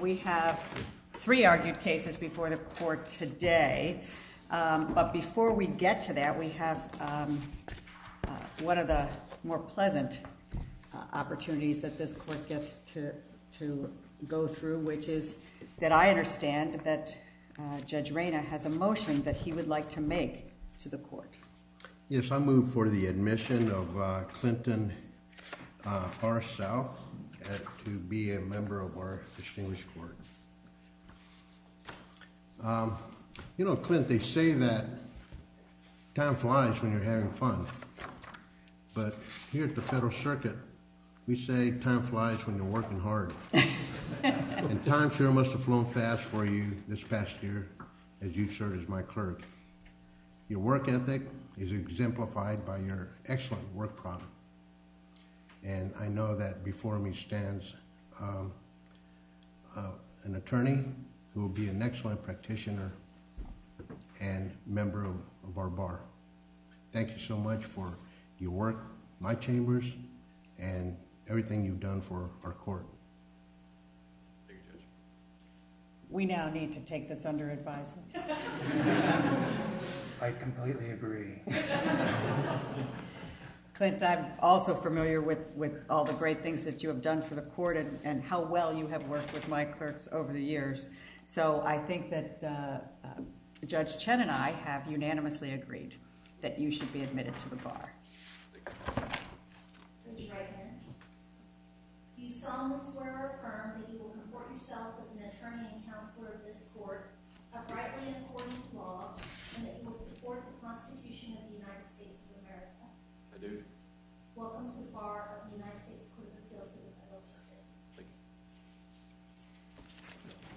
We have three argued cases before the court today, but before we get to that we have one of the more pleasant opportunities that this court gets to go through, which is that I understand that Judge Reyna has a motion that he would like to make to the court. Yes, I move for the admission of Clinton R. South to be a member of our distinguished court. You know, Clint, they say that time flies when you're having fun, but here at the Federal Circuit we say time flies when you're working hard. And time sure must have flown fast for you this past year as you've served as my clerk. Your work ethic is exemplified by your excellent work product. And I know that before me stands an attorney who will be an excellent practitioner and member of our bar. Thank you so much for your work, my chambers, and everything you've done for our court. Thank you, Judge. We now need to take this under advisement. I completely agree. Clint, I'm also familiar with all the great things that you have done for the court and how well you have worked with my clerks over the years. So I think that Judge Chen and I have unanimously agreed that you should be admitted to the bar. Would you write it in? Do you solemnly swear or affirm that you will comport yourself as an attorney and counselor of this court, uprightly and according to law, and that you will support the Constitution of the United States of America? I do. Welcome to the bar of the United States Court of Appeals for the Federal Circuit. Thank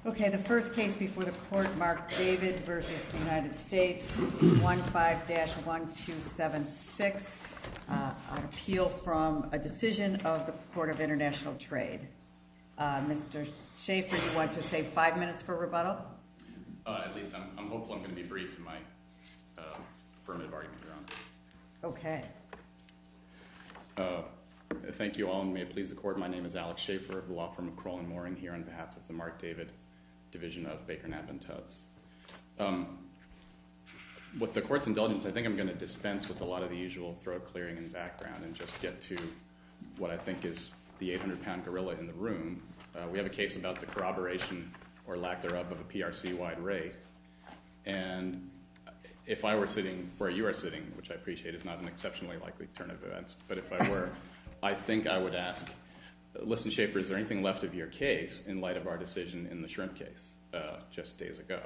you. Okay, the first case before the court, Mark David v. United States, 15-1276, an appeal from a decision of the Court of International Trade. Mr. Schaffer, do you want to save five minutes for rebuttal? At least I'm hopeful I'm going to be brief in my affirmative argument hereon. Okay. Thank you all, and may it please the court. My name is Alex Schaffer of the law firm of Kroll & Mooring here on behalf of the Mark David Division of Baker, Knapp & Tubbs. With the court's indulgence, I think I'm going to dispense with a lot of the usual throat clearing and background and just get to what I think is the 800-pound gorilla in the room. We have a case about the corroboration or lack thereof of a PRC-wide raid. And if I were sitting where you are sitting, which I appreciate is not an exceptionally likely turn of events, but if I were, I think I would ask, listen, Schaffer, is there anything left of your case in light of our decision in the shrimp case just days ago?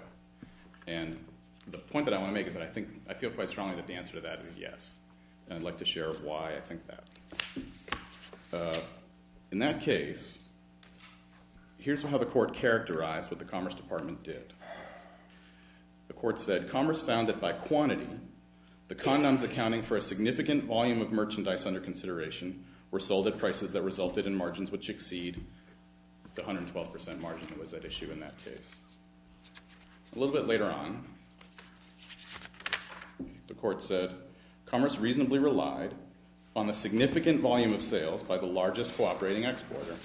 And the point that I want to make is that I think I feel quite strongly that the answer to that is yes, and I'd like to share why I think that. In that case, here's how the court characterized what the Commerce Department did. The court said, Commerce found that by quantity, the condoms accounting for a significant volume of merchandise under consideration were sold at prices that resulted in margins which exceed the 112% margin that was at issue in that case. A little bit later on, the court said, Commerce reasonably relied on the significant volume of sales by the largest cooperating exporter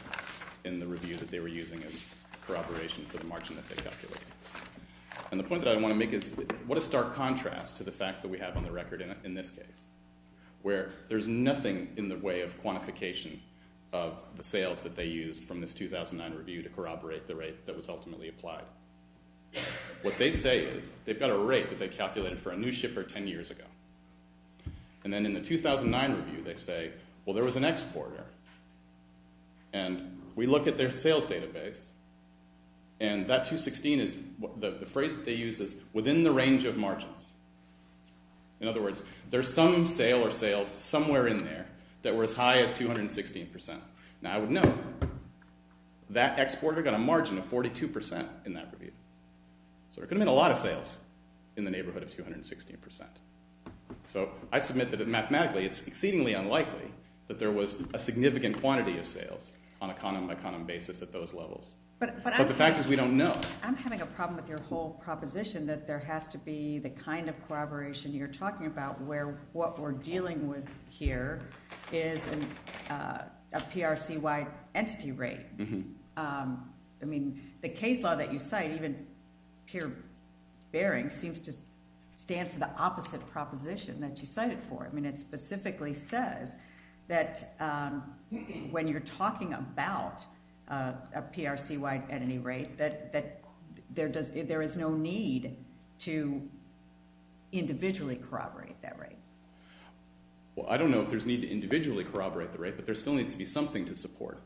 in the review that they were using as corroboration for the margin that they calculated. And the point that I want to make is what a stark contrast to the facts that we have on the record in this case, where there's nothing in the way of quantification of the sales that they used from this 2009 review to corroborate the rate that was ultimately applied. What they say is they've got a rate that they calculated for a new shipper 10 years ago. And then in the 2009 review, they say, well, there was an exporter, and we look at their sales database, and that 216 is – the phrase that they use is within the range of margins. In other words, there's some sale or sales somewhere in there that were as high as 216%. Now, I would note that exporter got a margin of 42% in that review. So there could have been a lot of sales in the neighborhood of 216%. So I submit that mathematically it's exceedingly unlikely that there was a significant quantity of sales on a condom-by-condom basis at those levels. But the fact is we don't know. I'm having a problem with your whole proposition that there has to be the kind of corroboration you're talking about where what we're dealing with here is a PRC-wide entity rate. I mean the case law that you cite, even peer-bearing, seems to stand for the opposite proposition that you cited for it. I mean it specifically says that when you're talking about a PRC-wide entity rate that there is no need to individually corroborate that rate. Well, I don't know if there's need to individually corroborate the rate, but there still needs to be something to support.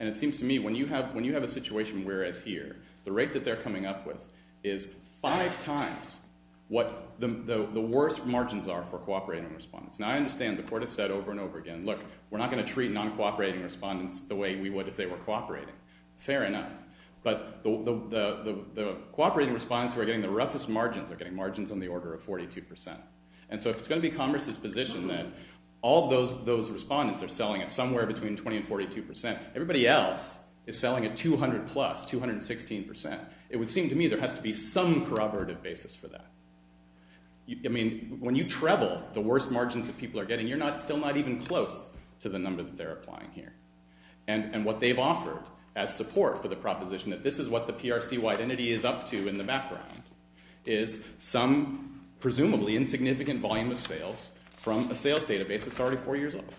And it seems to me when you have a situation whereas here, the rate that they're coming up with is five times what the worst margins are for cooperating respondents. Now, I understand the court has said over and over again, look, we're not going to treat non-cooperating respondents the way we would if they were cooperating. Fair enough. But the cooperating respondents who are getting the roughest margins are getting margins on the order of 42%. And so if it's going to be Congress's position that all of those respondents are selling at somewhere between 20% and 42%, everybody else is selling at 200-plus, 216%. It would seem to me there has to be some corroborative basis for that. I mean when you treble the worst margins that people are getting, you're still not even close to the number that they're applying here. And what they've offered as support for the proposition that this is what the PRC-wide entity is up to in the background is some presumably insignificant volume of sales from a sales database that's already four years old.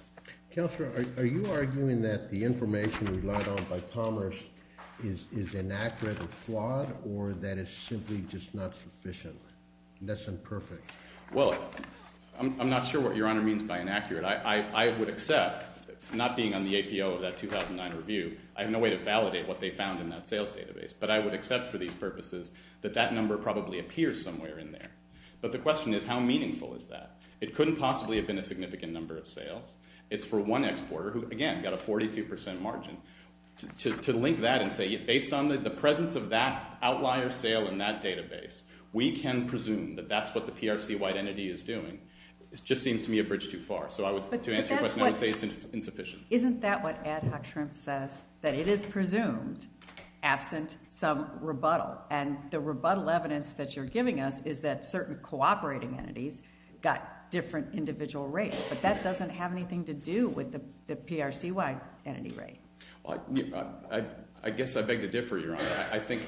Counselor, are you arguing that the information relied on by Commerce is inaccurate or flawed or that it's simply just not sufficient? That's imperfect. Well, I'm not sure what Your Honor means by inaccurate. I would accept, not being on the APO of that 2009 review, I have no way to validate what they found in that sales database. But I would accept for these purposes that that number probably appears somewhere in there. But the question is how meaningful is that? It couldn't possibly have been a significant number of sales. It's for one exporter who, again, got a 42% margin. To link that and say based on the presence of that outlier sale in that database, we can presume that that's what the PRC-wide entity is doing just seems to me a bridge too far. So to answer your question, I would say it's insufficient. Isn't that what Ed Hochstrom says, that it is presumed absent some rebuttal? And the rebuttal evidence that you're giving us is that certain cooperating entities got different individual rates. But that doesn't have anything to do with the PRC-wide entity rate. I think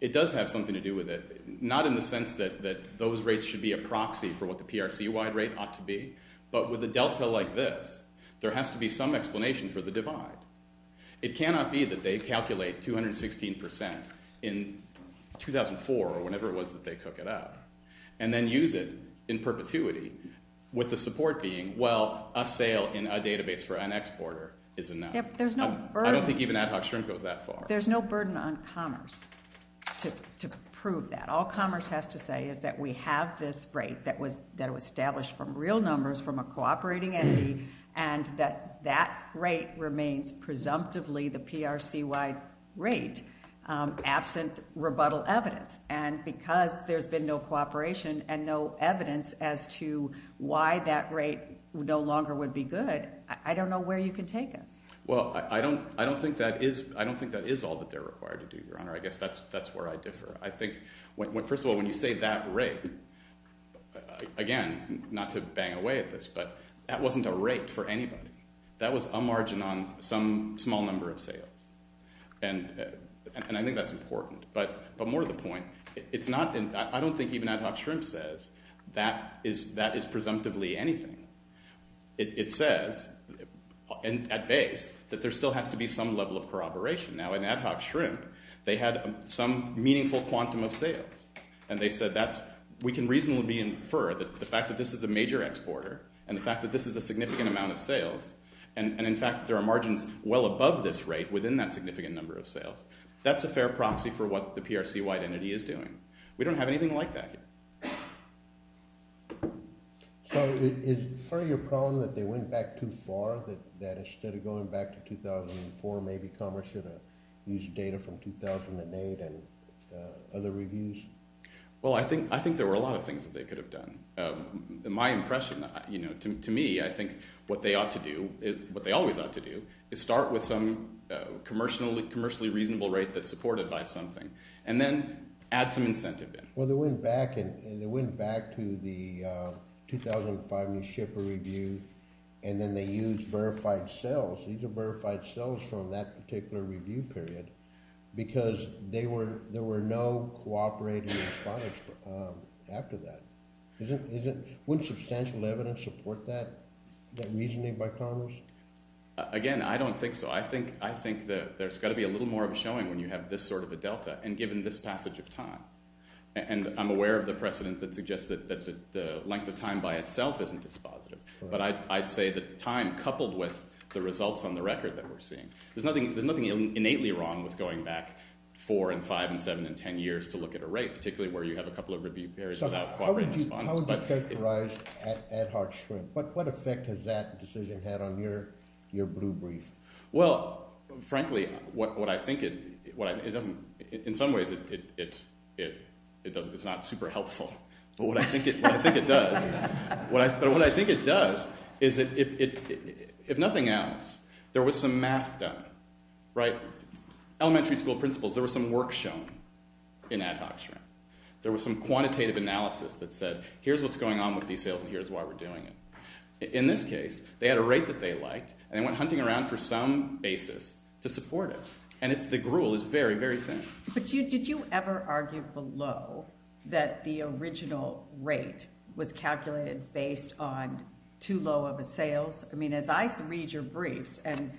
it does have something to do with it. Not in the sense that those rates should be a proxy for what the PRC-wide rate ought to be. But with a delta like this, there has to be some explanation for the divide. It cannot be that they calculate 216% in 2004 or whenever it was that they cook it up. And then use it in perpetuity with the support being, well, a sale in a database for an exporter is enough. There's no burden. I don't think even Ed Hochstrom goes that far. There's no burden on commerce to prove that. All commerce has to say is that we have this rate that was established from real numbers from a cooperating entity. And that that rate remains presumptively the PRC-wide rate absent rebuttal evidence. And because there's been no cooperation and no evidence as to why that rate no longer would be good, I don't know where you can take us. Well, I don't think that is all that they're required to do, Your Honor. I guess that's where I differ. I think, first of all, when you say that rate, again, not to bang away at this, but that wasn't a rate for anybody. That was a margin on some small number of sales. And I think that's important. But more to the point, I don't think even Ed Hochstrom says that is presumptively anything. It says at base that there still has to be some level of corroboration. Now, in Ed Hochstrom, they had some meaningful quantum of sales. And they said we can reasonably infer that the fact that this is a major exporter and the fact that this is a significant amount of sales, and, in fact, there are margins well above this rate within that significant number of sales, that's a fair proxy for what the PRC wide entity is doing. We don't have anything like that here. So is it part of your problem that they went back too far, that instead of going back to 2004, maybe Commerce should have used data from 2008 and other reviews? Well, I think there were a lot of things that they could have done. My impression, to me, I think what they ought to do, what they always ought to do, is start with some commercially reasonable rate that's supported by something and then add some incentive there. Well, they went back, and they went back to the 2005 New Shipper Review, and then they used verified sales. These are verified sales from that particular review period because there were no cooperating respondents after that. Wouldn't substantial evidence support that reasoning by Commerce? Again, I don't think so. I think that there's got to be a little more of a showing when you have this sort of a delta, and given this passage of time. And I'm aware of the precedent that suggests that the length of time by itself isn't as positive. But I'd say the time coupled with the results on the record that we're seeing. There's nothing innately wrong with going back four and five and seven and ten years to look at a rate, particularly where you have a couple of review periods without cooperating respondents. How would you characterize Ad Hoc Shrimp? What effect has that decision had on your blue brief? Well, frankly, what I think it – in some ways, it's not super helpful. But what I think it does is if nothing else, there was some math done, right? Elementary school principals, there was some work shown in Ad Hoc Shrimp. There was some quantitative analysis that said here's what's going on with these sales and here's why we're doing it. In this case, they had a rate that they liked, and they went hunting around for some basis to support it. And the gruel is very, very thin. But did you ever argue below that the original rate was calculated based on too low of a sales? I mean, as I read your briefs, and,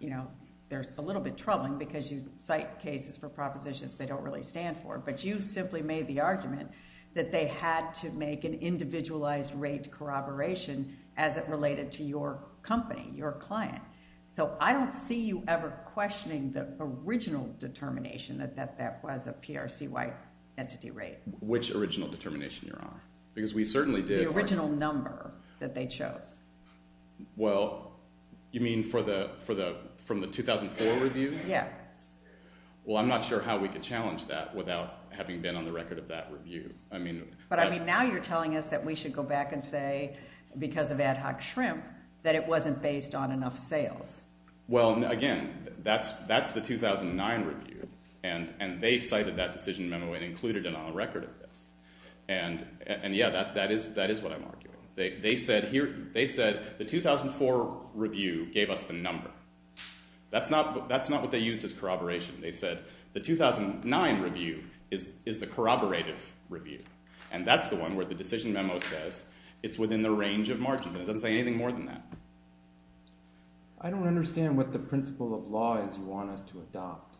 you know, they're a little bit troubling because you cite cases for propositions they don't really stand for. But you simply made the argument that they had to make an individualized rate corroboration as it related to your company, your client. So I don't see you ever questioning the original determination that that was a PRC-wide entity rate. Which original determination, Your Honor? Because we certainly did. The original number that they chose. Well, you mean for the – from the 2004 review? Yes. Well, I'm not sure how we could challenge that without having been on the record of that review. But, I mean, now you're telling us that we should go back and say, because of ad hoc shrimp, that it wasn't based on enough sales. Well, again, that's the 2009 review. And they cited that decision memo and included it on the record of this. And, yeah, that is what I'm arguing. They said the 2004 review gave us the number. That's not what they used as corroboration. They said the 2009 review is the corroborative review. And that's the one where the decision memo says it's within the range of margins. And it doesn't say anything more than that. I don't understand what the principle of law is you want us to adopt.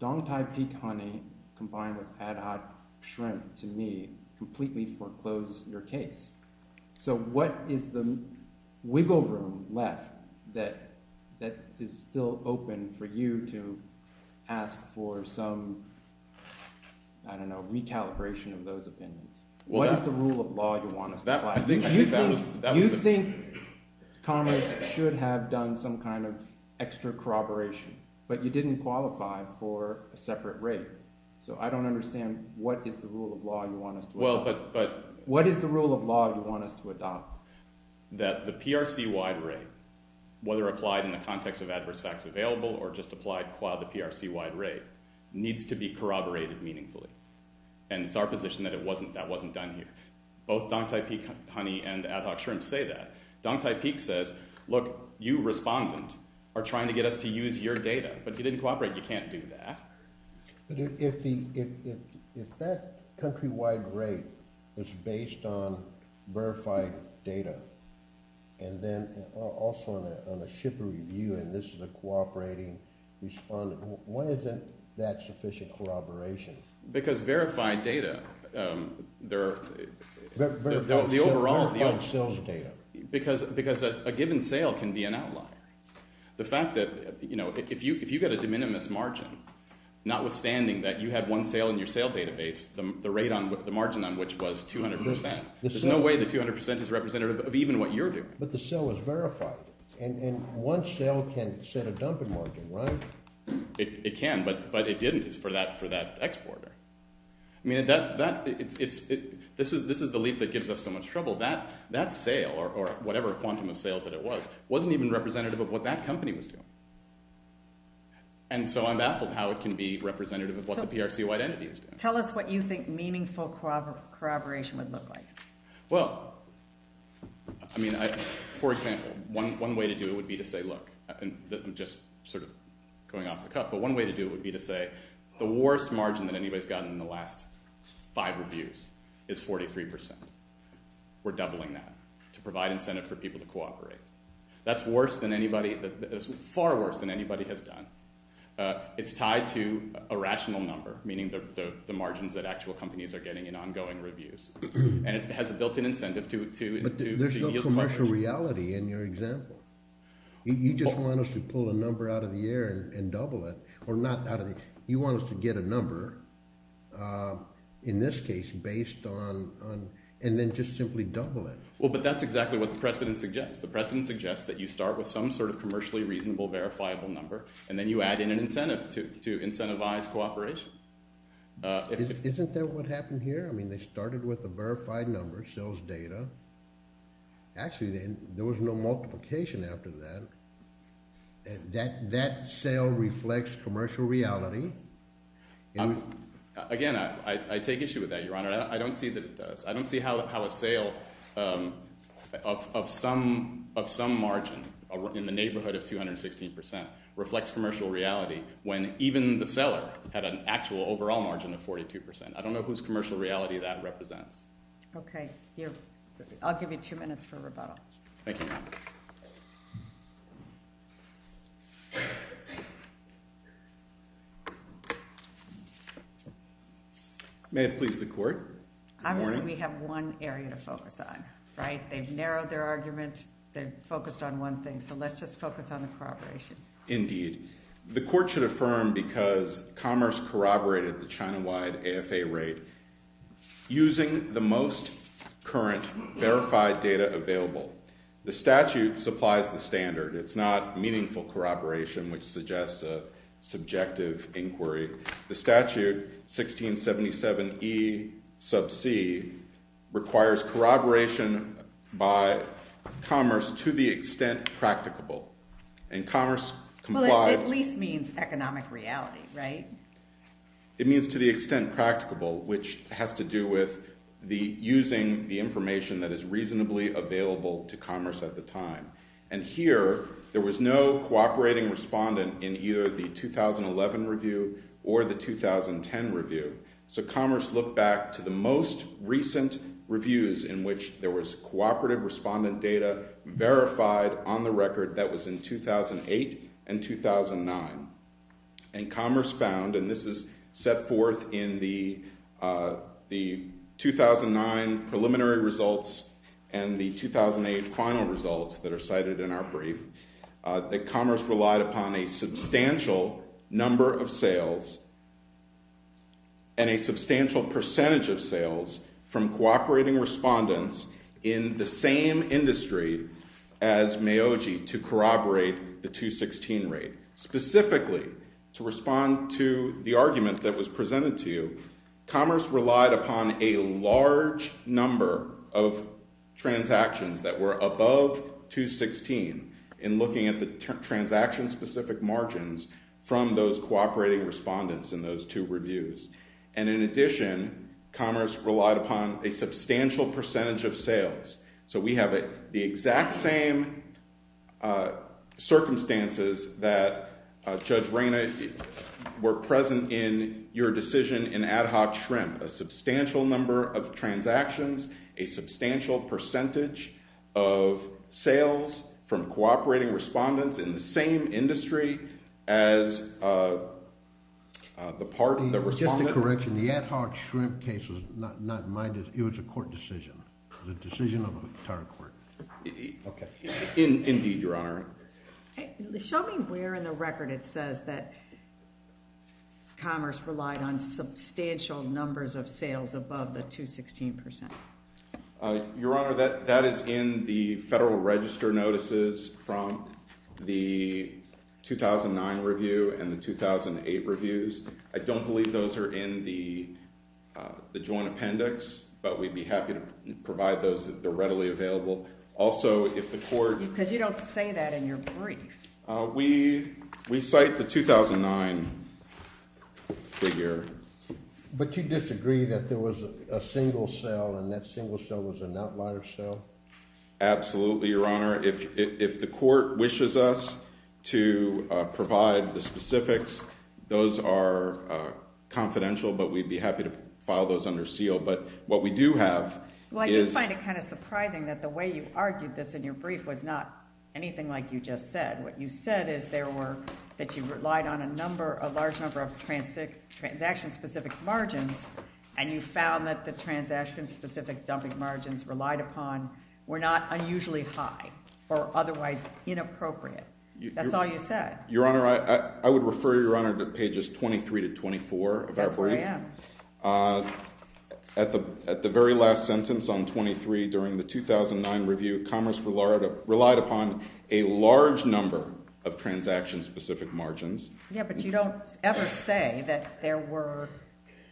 Dong Thai peak honey combined with ad hoc shrimp, to me, completely foreclosed your case. So what is the wiggle room left that is still open for you to ask for some, I don't know, recalibration of those opinions? What is the rule of law you want us to apply? You think Congress should have done some kind of extra corroboration, but you didn't qualify for a separate rate. So I don't understand what is the rule of law you want us to apply. What is the rule of law you want us to adopt? That the PRC-wide rate, whether applied in the context of adverse facts available or just applied qua the PRC-wide rate, needs to be corroborated meaningfully. And it's our position that that wasn't done here. Both Dong Thai peak honey and ad hoc shrimp say that. Dong Thai peak says, look, you, respondent, are trying to get us to use your data. But if you didn't cooperate, you can't do that. But if that country-wide rate is based on verified data and then also on a shipper review and this is a cooperating respondent, why isn't that sufficient corroboration? Because verified data, the overall… Verified sales data. Because a given sale can be an outlier. The fact that if you get a de minimis margin, notwithstanding that you have one sale in your sale database, the rate on the margin on which was 200%, there's no way the 200% is representative of even what you're doing. But the sale is verified. And one sale can set a dumping margin, right? It can, but it didn't for that exporter. I mean, this is the leap that gives us so much trouble. That sale or whatever quantum of sales that it was wasn't even representative of what that company was doing. And so I'm baffled how it can be representative of what the PRCO identity is doing. Tell us what you think meaningful corroboration would look like. Well, I mean, for example, one way to do it would be to say, look… I'm just sort of going off the cuff. But one way to do it would be to say the worst margin that anybody's gotten in the last five reviews is 43%. We're doubling that to provide incentive for people to cooperate. That's worse than anybody – far worse than anybody has done. It's tied to a rational number, meaning the margins that actual companies are getting in ongoing reviews. And it has a built-in incentive to… But there's no commercial reality in your example. You just want us to pull a number out of the air and double it. Or not out of the air. You want us to get a number, in this case, based on – and then just simply double it. Well, but that's exactly what the precedent suggests. The precedent suggests that you start with some sort of commercially reasonable verifiable number, and then you add in an incentive to incentivize cooperation. Isn't that what happened here? I mean, they started with a verified number, sales data. Actually, there was no multiplication after that. That sale reflects commercial reality. Again, I take issue with that, Your Honor. I don't see that it does. I don't see how a sale of some margin in the neighborhood of 216% reflects commercial reality when even the seller had an actual overall margin of 42%. I don't know whose commercial reality that represents. Okay. I'll give you two minutes for rebuttal. Thank you, Your Honor. May it please the court. Obviously, we have one area to focus on, right? They've narrowed their argument. They've focused on one thing. So let's just focus on the corroboration. Indeed. The court should affirm because commerce corroborated the China-wide AFA rate using the most current verified data available. The statute supplies the standard. It's not meaningful corroboration, which suggests a subjective inquiry. The statute, 1677E sub c, requires corroboration by commerce to the extent practicable. Well, it at least means economic reality, right? It means to the extent practicable, which has to do with using the information that is reasonably available to commerce at the time. And here, there was no cooperating respondent in either the 2011 review or the 2010 review. So commerce looked back to the most recent reviews in which there was cooperative respondent data verified on the record that was in 2008 and 2009. And commerce found, and this is set forth in the 2009 preliminary results and the 2008 final results that are cited in our brief, that commerce relied upon a substantial number of sales and a substantial percentage of sales from cooperating respondents in the same industry as Meoji to corroborate the 216 rate. Specifically, to respond to the argument that was presented to you, commerce relied upon a large number of transactions that were above 216. In looking at the transaction-specific margins from those cooperating respondents in those two reviews. And in addition, commerce relied upon a substantial percentage of sales. So we have the exact same circumstances that, Judge Reyna, were present in your decision in Ad Hoc Shrimp. A substantial number of transactions, a substantial percentage of sales from cooperating respondents in the same industry as the part of the respondent. Just a correction. The Ad Hoc Shrimp case was not my decision. It was a court decision. It was a decision of the entire court. Okay. Indeed, Your Honor. Show me where in the record it says that commerce relied on substantial numbers of sales above the 216%. Your Honor, that is in the federal register notices from the 2009 review and the 2008 reviews. I don't believe those are in the joint appendix, but we'd be happy to provide those if they're readily available. Also, if the court- Because you don't say that in your brief. We cite the 2009 figure. But you disagree that there was a single sale and that single sale was an outlier sale? Absolutely, Your Honor. If the court wishes us to provide the specifics, those are confidential, but we'd be happy to file those under seal. But what we do have is- It's not anything like you just said. What you said is that you relied on a large number of transaction-specific margins, and you found that the transaction-specific dumping margins relied upon were not unusually high or otherwise inappropriate. That's all you said. Your Honor, I would refer Your Honor to pages 23 to 24 of our brief. That's where I am. At the very last sentence on 23 during the 2009 review, commerce relied upon a large number of transaction-specific margins. Yeah, but you don't ever say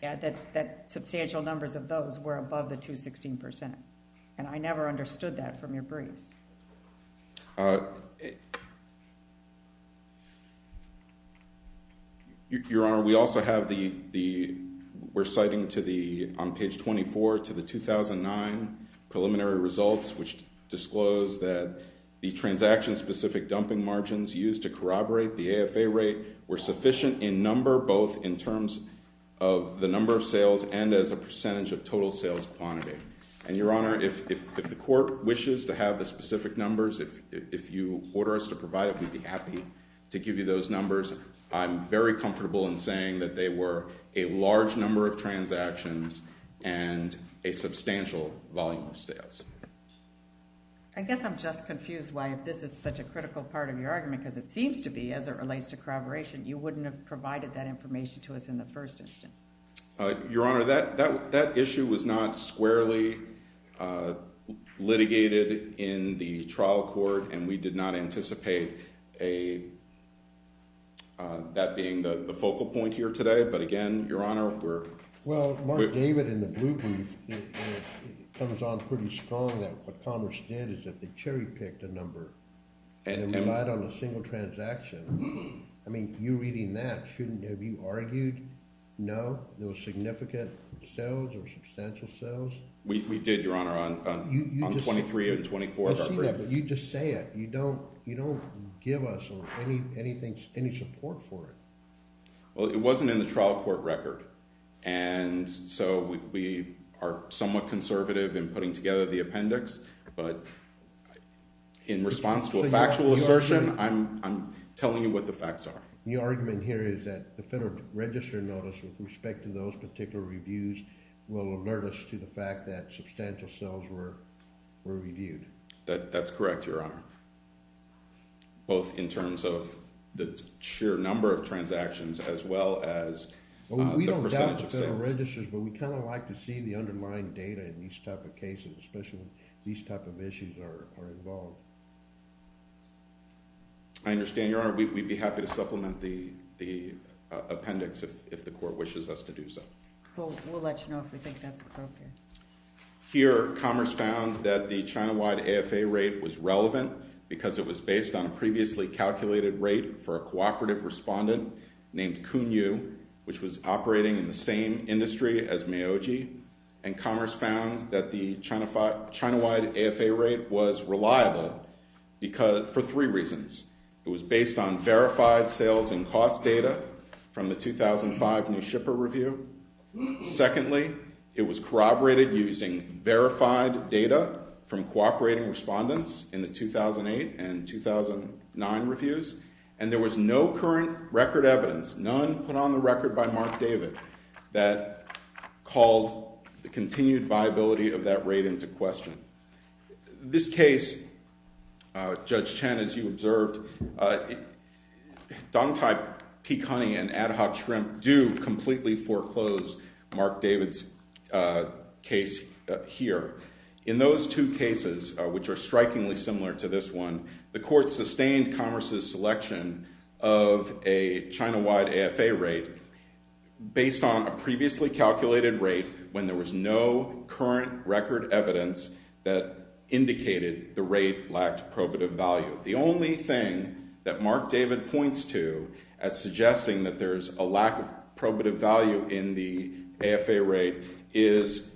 that substantial numbers of those were above the 216%, and I never understood that from your briefs. Your Honor, we also have the, we're citing on page 24 to the 2009 preliminary results, which disclosed that the transaction-specific dumping margins used to corroborate the AFA rate were sufficient in number, both in terms of the number of sales and as a percentage of total sales quantity. And Your Honor, if the court wishes to have the specific numbers, if you order us to provide it, we'd be happy to give you those numbers. I'm very comfortable in saying that they were a large number of transactions and a substantial volume of sales. I guess I'm just confused why this is such a critical part of your argument, because it seems to be, as it relates to corroboration, you wouldn't have provided that information to us in the first instance. Your Honor, that issue was not squarely litigated in the trial court, and we did not anticipate that being the focal point here today. But again, Your Honor, we're— Well, Mark David in the blue brief comes on pretty strong that what commerce did is that they cherry-picked a number and relied on a single transaction. I mean, you reading that, shouldn't—have you argued, no, there was significant sales or substantial sales? We did, Your Honor, on 23 and 24 of our briefs. You just say it. You don't give us any support for it. Well, it wasn't in the trial court record, and so we are somewhat conservative in putting together the appendix. But in response to a factual assertion, I'm telling you what the facts are. Your argument here is that the Federal Register notice with respect to those particular reviews will alert us to the fact that substantial sales were reviewed. That's correct, Your Honor, both in terms of the sheer number of transactions as well as the percentage of sales. But we kind of like to see the underlying data in these type of cases, especially when these type of issues are involved. I understand, Your Honor. We'd be happy to supplement the appendix if the court wishes us to do so. We'll let you know if we think that's appropriate. Here, commerce found that the China-wide AFA rate was relevant because it was based on a previously calculated rate for a cooperative respondent named Kun Yu, which was operating in the same industry as Miyoji, and commerce found that the China-wide AFA rate was reliable for three reasons. It was based on verified sales and cost data from the 2005 new shipper review. Secondly, it was corroborated using verified data from cooperating respondents in the 2008 and 2009 reviews, and there was no current record evidence. None put on the record by Mark David that called the continued viability of that rate into question. This case, Judge Chen, as you observed, Dong Tai Pecani and Ad Hoc Shrimp do completely foreclose Mark David's case here. In those two cases, which are strikingly similar to this one, the court sustained commerce's selection of a China-wide AFA rate based on a previously calculated rate when there was no current record evidence that indicated the rate lacked probative value. The only thing that Mark David points to as suggesting that there's a lack of probative value in the AFA rate is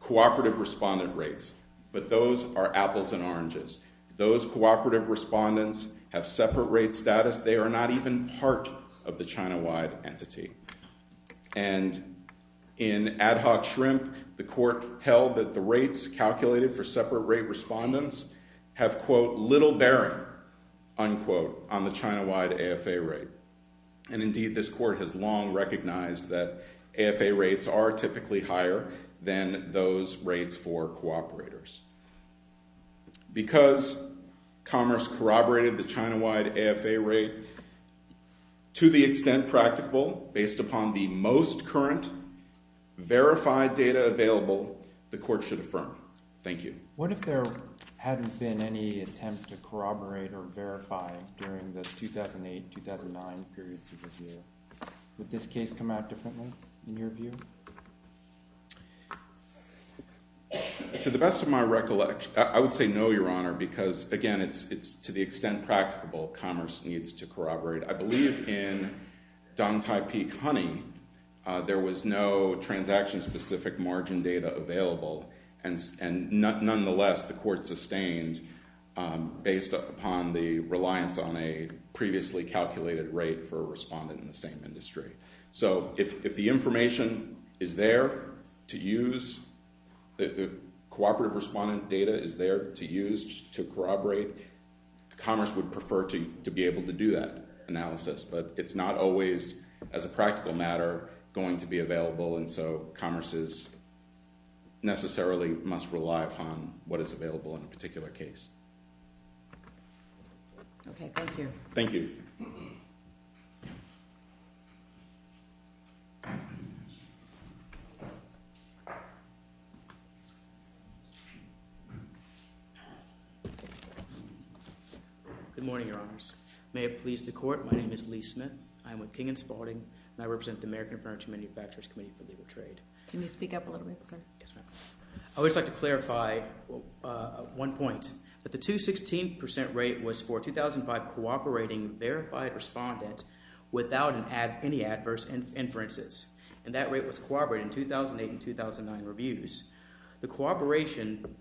cooperative respondent rates, but those are apples and oranges. Those cooperative respondents have separate rate status. They are not even part of the China-wide entity. And in Ad Hoc Shrimp, the court held that the rates calculated for separate rate respondents have, quote, little bearing, unquote, on the China-wide AFA rate. And indeed, this court has long recognized that AFA rates are typically higher than those rates for cooperators. Because commerce corroborated the China-wide AFA rate to the extent practical based upon the most current verified data available, the court should affirm. Thank you. What if there hadn't been any attempt to corroborate or verify during the 2008-2009 periods of review? Would this case come out differently in your view? To the best of my recollection, I would say no, Your Honor, because, again, it's to the extent practicable. Commerce needs to corroborate. I believe in Dong Tai Peak Honey, there was no transaction-specific margin data available. And nonetheless, the court sustained based upon the reliance on a previously calculated rate for a respondent in the same industry. So if the information is there to use, the cooperative respondent data is there to use to corroborate, commerce would prefer to be able to do that analysis. But it's not always, as a practical matter, going to be available. And so commerce necessarily must rely upon what is available in a particular case. Okay, thank you. Thank you. Good morning, Your Honors. May it please the court, my name is Lee Smith. I am with King & Spalding, and I represent the American Furniture Manufacturers Committee for Legal Trade. Can you speak up a little bit, sir? Yes, ma'am. I would just like to clarify one point, that the 216% rate was for 2005 cooperating verified respondent without any adverse inferences. And that rate was corroborated in 2008 and 2009 reviews. The corroboration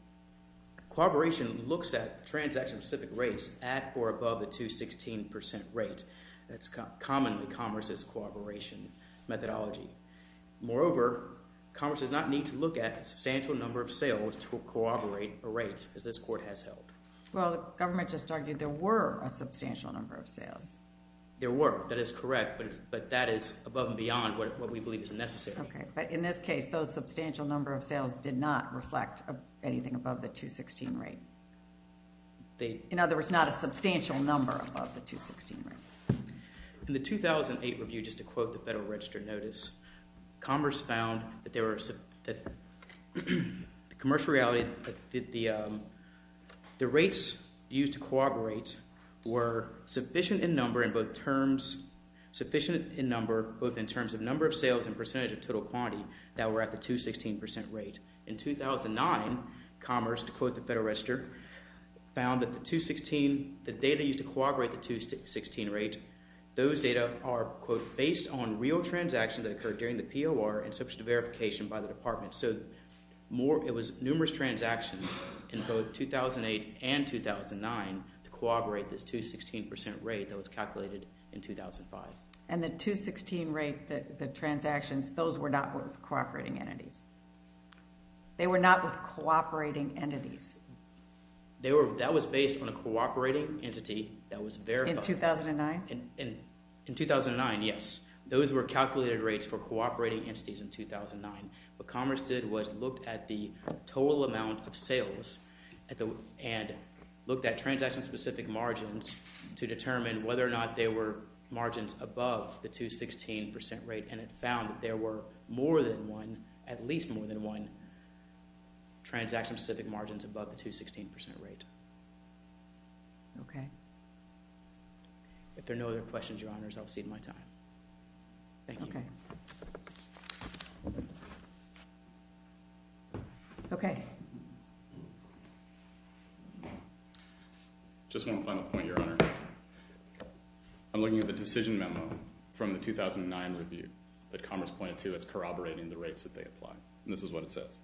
looks at transaction-specific rates at or above the 216% rate. That's commonly commerce's corroboration methodology. Moreover, commerce does not need to look at a substantial number of sales to corroborate a rate, as this court has held. Well, the government just argued there were a substantial number of sales. There were, that is correct, but that is above and beyond what we believe is necessary. Okay, but in this case, those substantial number of sales did not reflect anything above the 216 rate. In other words, not a substantial number above the 216 rate. In the 2008 review, just to quote the Federal Register notice, commerce found that there were – the commercial reality that the rates used to corroborate were sufficient in number in both terms – sufficient in number both in terms of number of sales and percentage of total quantity that were at the 216% rate. In 2009, commerce, to quote the Federal Register, found that the 216 – the data used to corroborate the 216 rate, those data are, quote, based on real transactions that occurred during the POR and subject to verification by the department. So more – it was numerous transactions in both 2008 and 2009 to corroborate this 216% rate that was calculated in 2005. And the 216 rate, the transactions, those were not with cooperating entities. They were not with cooperating entities. They were – that was based on a cooperating entity that was verified. In 2009? In 2009, yes. Those were calculated rates for cooperating entities in 2009. What commerce did was looked at the total amount of sales and looked at transaction-specific margins to determine whether or not there were margins above the 216% rate. And it found that there were more than one, at least more than one, transaction-specific margins above the 216% rate. Okay. If there are no other questions, Your Honors, I'll cede my time. Thank you. Okay. Okay. Just one final point, Your Honor. I'm looking at the decision memo from the 2009 review that Commerce pointed to as corroborating the rates that they applied. And this is what it says.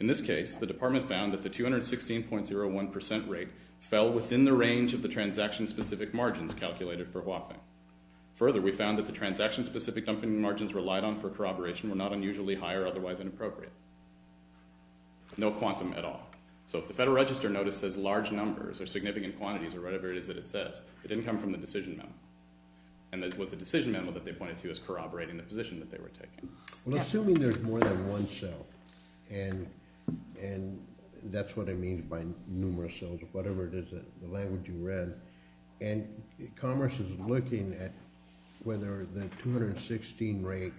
In this case, the department found that the 216.01% rate fell within the range of the transaction-specific margins calculated for Hua Feng. Further, we found that the transaction-specific dumping margins relied on for corroboration were not unusually high or otherwise inappropriate. No quantum at all. So if the Federal Register notice says large numbers or significant quantities or whatever it is that it says, it didn't come from the decision memo. And it was the decision memo that they pointed to as corroborating the position that they were taking. Well, assuming there's more than one sale, and that's what I mean by numerous sales or whatever it is, the language you read. And Commerce is looking at whether the 216 rate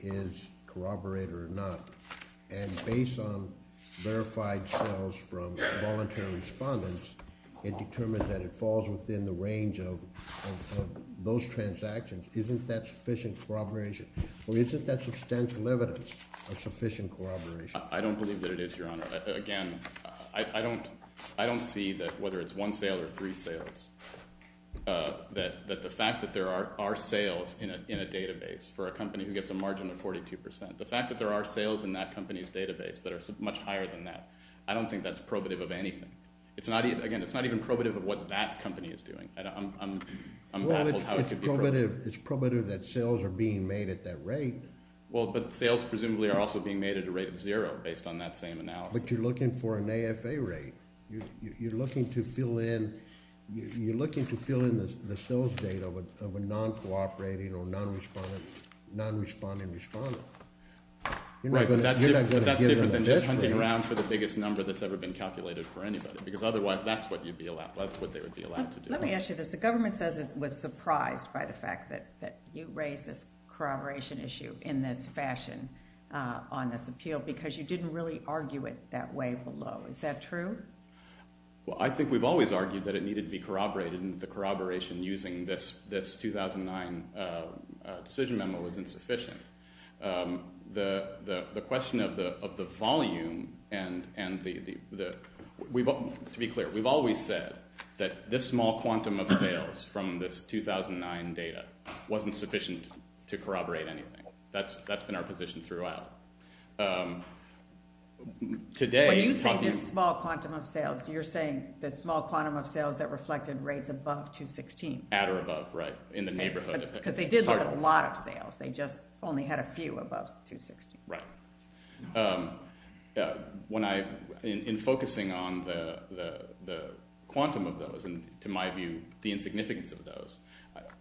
is corroborated or not. And based on verified sales from volunteer respondents, it determined that it falls within the range of those transactions. Isn't that sufficient corroboration? Or isn't that substantial evidence of sufficient corroboration? I don't believe that it is, Your Honor. Again, I don't see that whether it's one sale or three sales, that the fact that there are sales in a database for a company who gets a margin of 42%, the fact that there are sales in that company's database that are much higher than that, I don't think that's probative of anything. Again, it's not even probative of what that company is doing. I'm baffled how it could be probative. Well, it's probative that sales are being made at that rate. Well, but sales presumably are also being made at a rate of zero based on that same analysis. But you're looking for an AFA rate. You're looking to fill in the sales data of a non-cooperating or non-responding respondent. Right, but that's different than just hunting around for the biggest number that's ever been calculated for anybody, because otherwise that's what they would be allowed to do. Let me ask you this. The government says it was surprised by the fact that you raised this corroboration issue in this fashion on this appeal because you didn't really argue it that way below. Is that true? Well, I think we've always argued that it needed to be corroborated and that the corroboration using this 2009 decision memo was insufficient. The question of the volume, and to be clear, we've always said that this small quantum of sales from this 2009 data wasn't sufficient to corroborate anything. That's been our position throughout. When you say this small quantum of sales, you're saying the small quantum of sales that reflected rates above 216. At or above, right, in the neighborhood. Because they did have a lot of sales. They just only had a few above 260. Right. In focusing on the quantum of those and, to my view, the insignificance of those,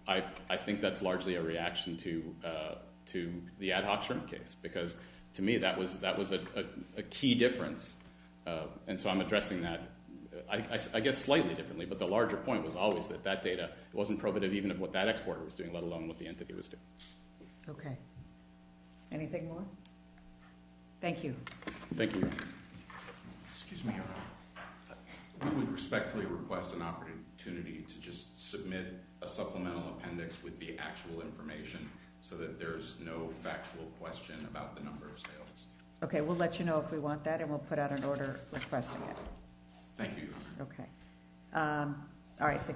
I think that's largely a reaction to the ad hoc shrink case because, to me, that was a key difference. And so I'm addressing that, I guess, slightly differently, but the larger point was always that that data wasn't probative even of what that exporter was doing, let alone what the entity was doing. Okay. Anything more? Thank you. Thank you. Excuse me. We would respectfully request an opportunity to just submit a supplemental appendix with the actual information so that there's no factual question about the number of sales. Okay. We'll let you know if we want that, and we'll put out an order requesting it. Thank you. Okay. All right. The case was submitted.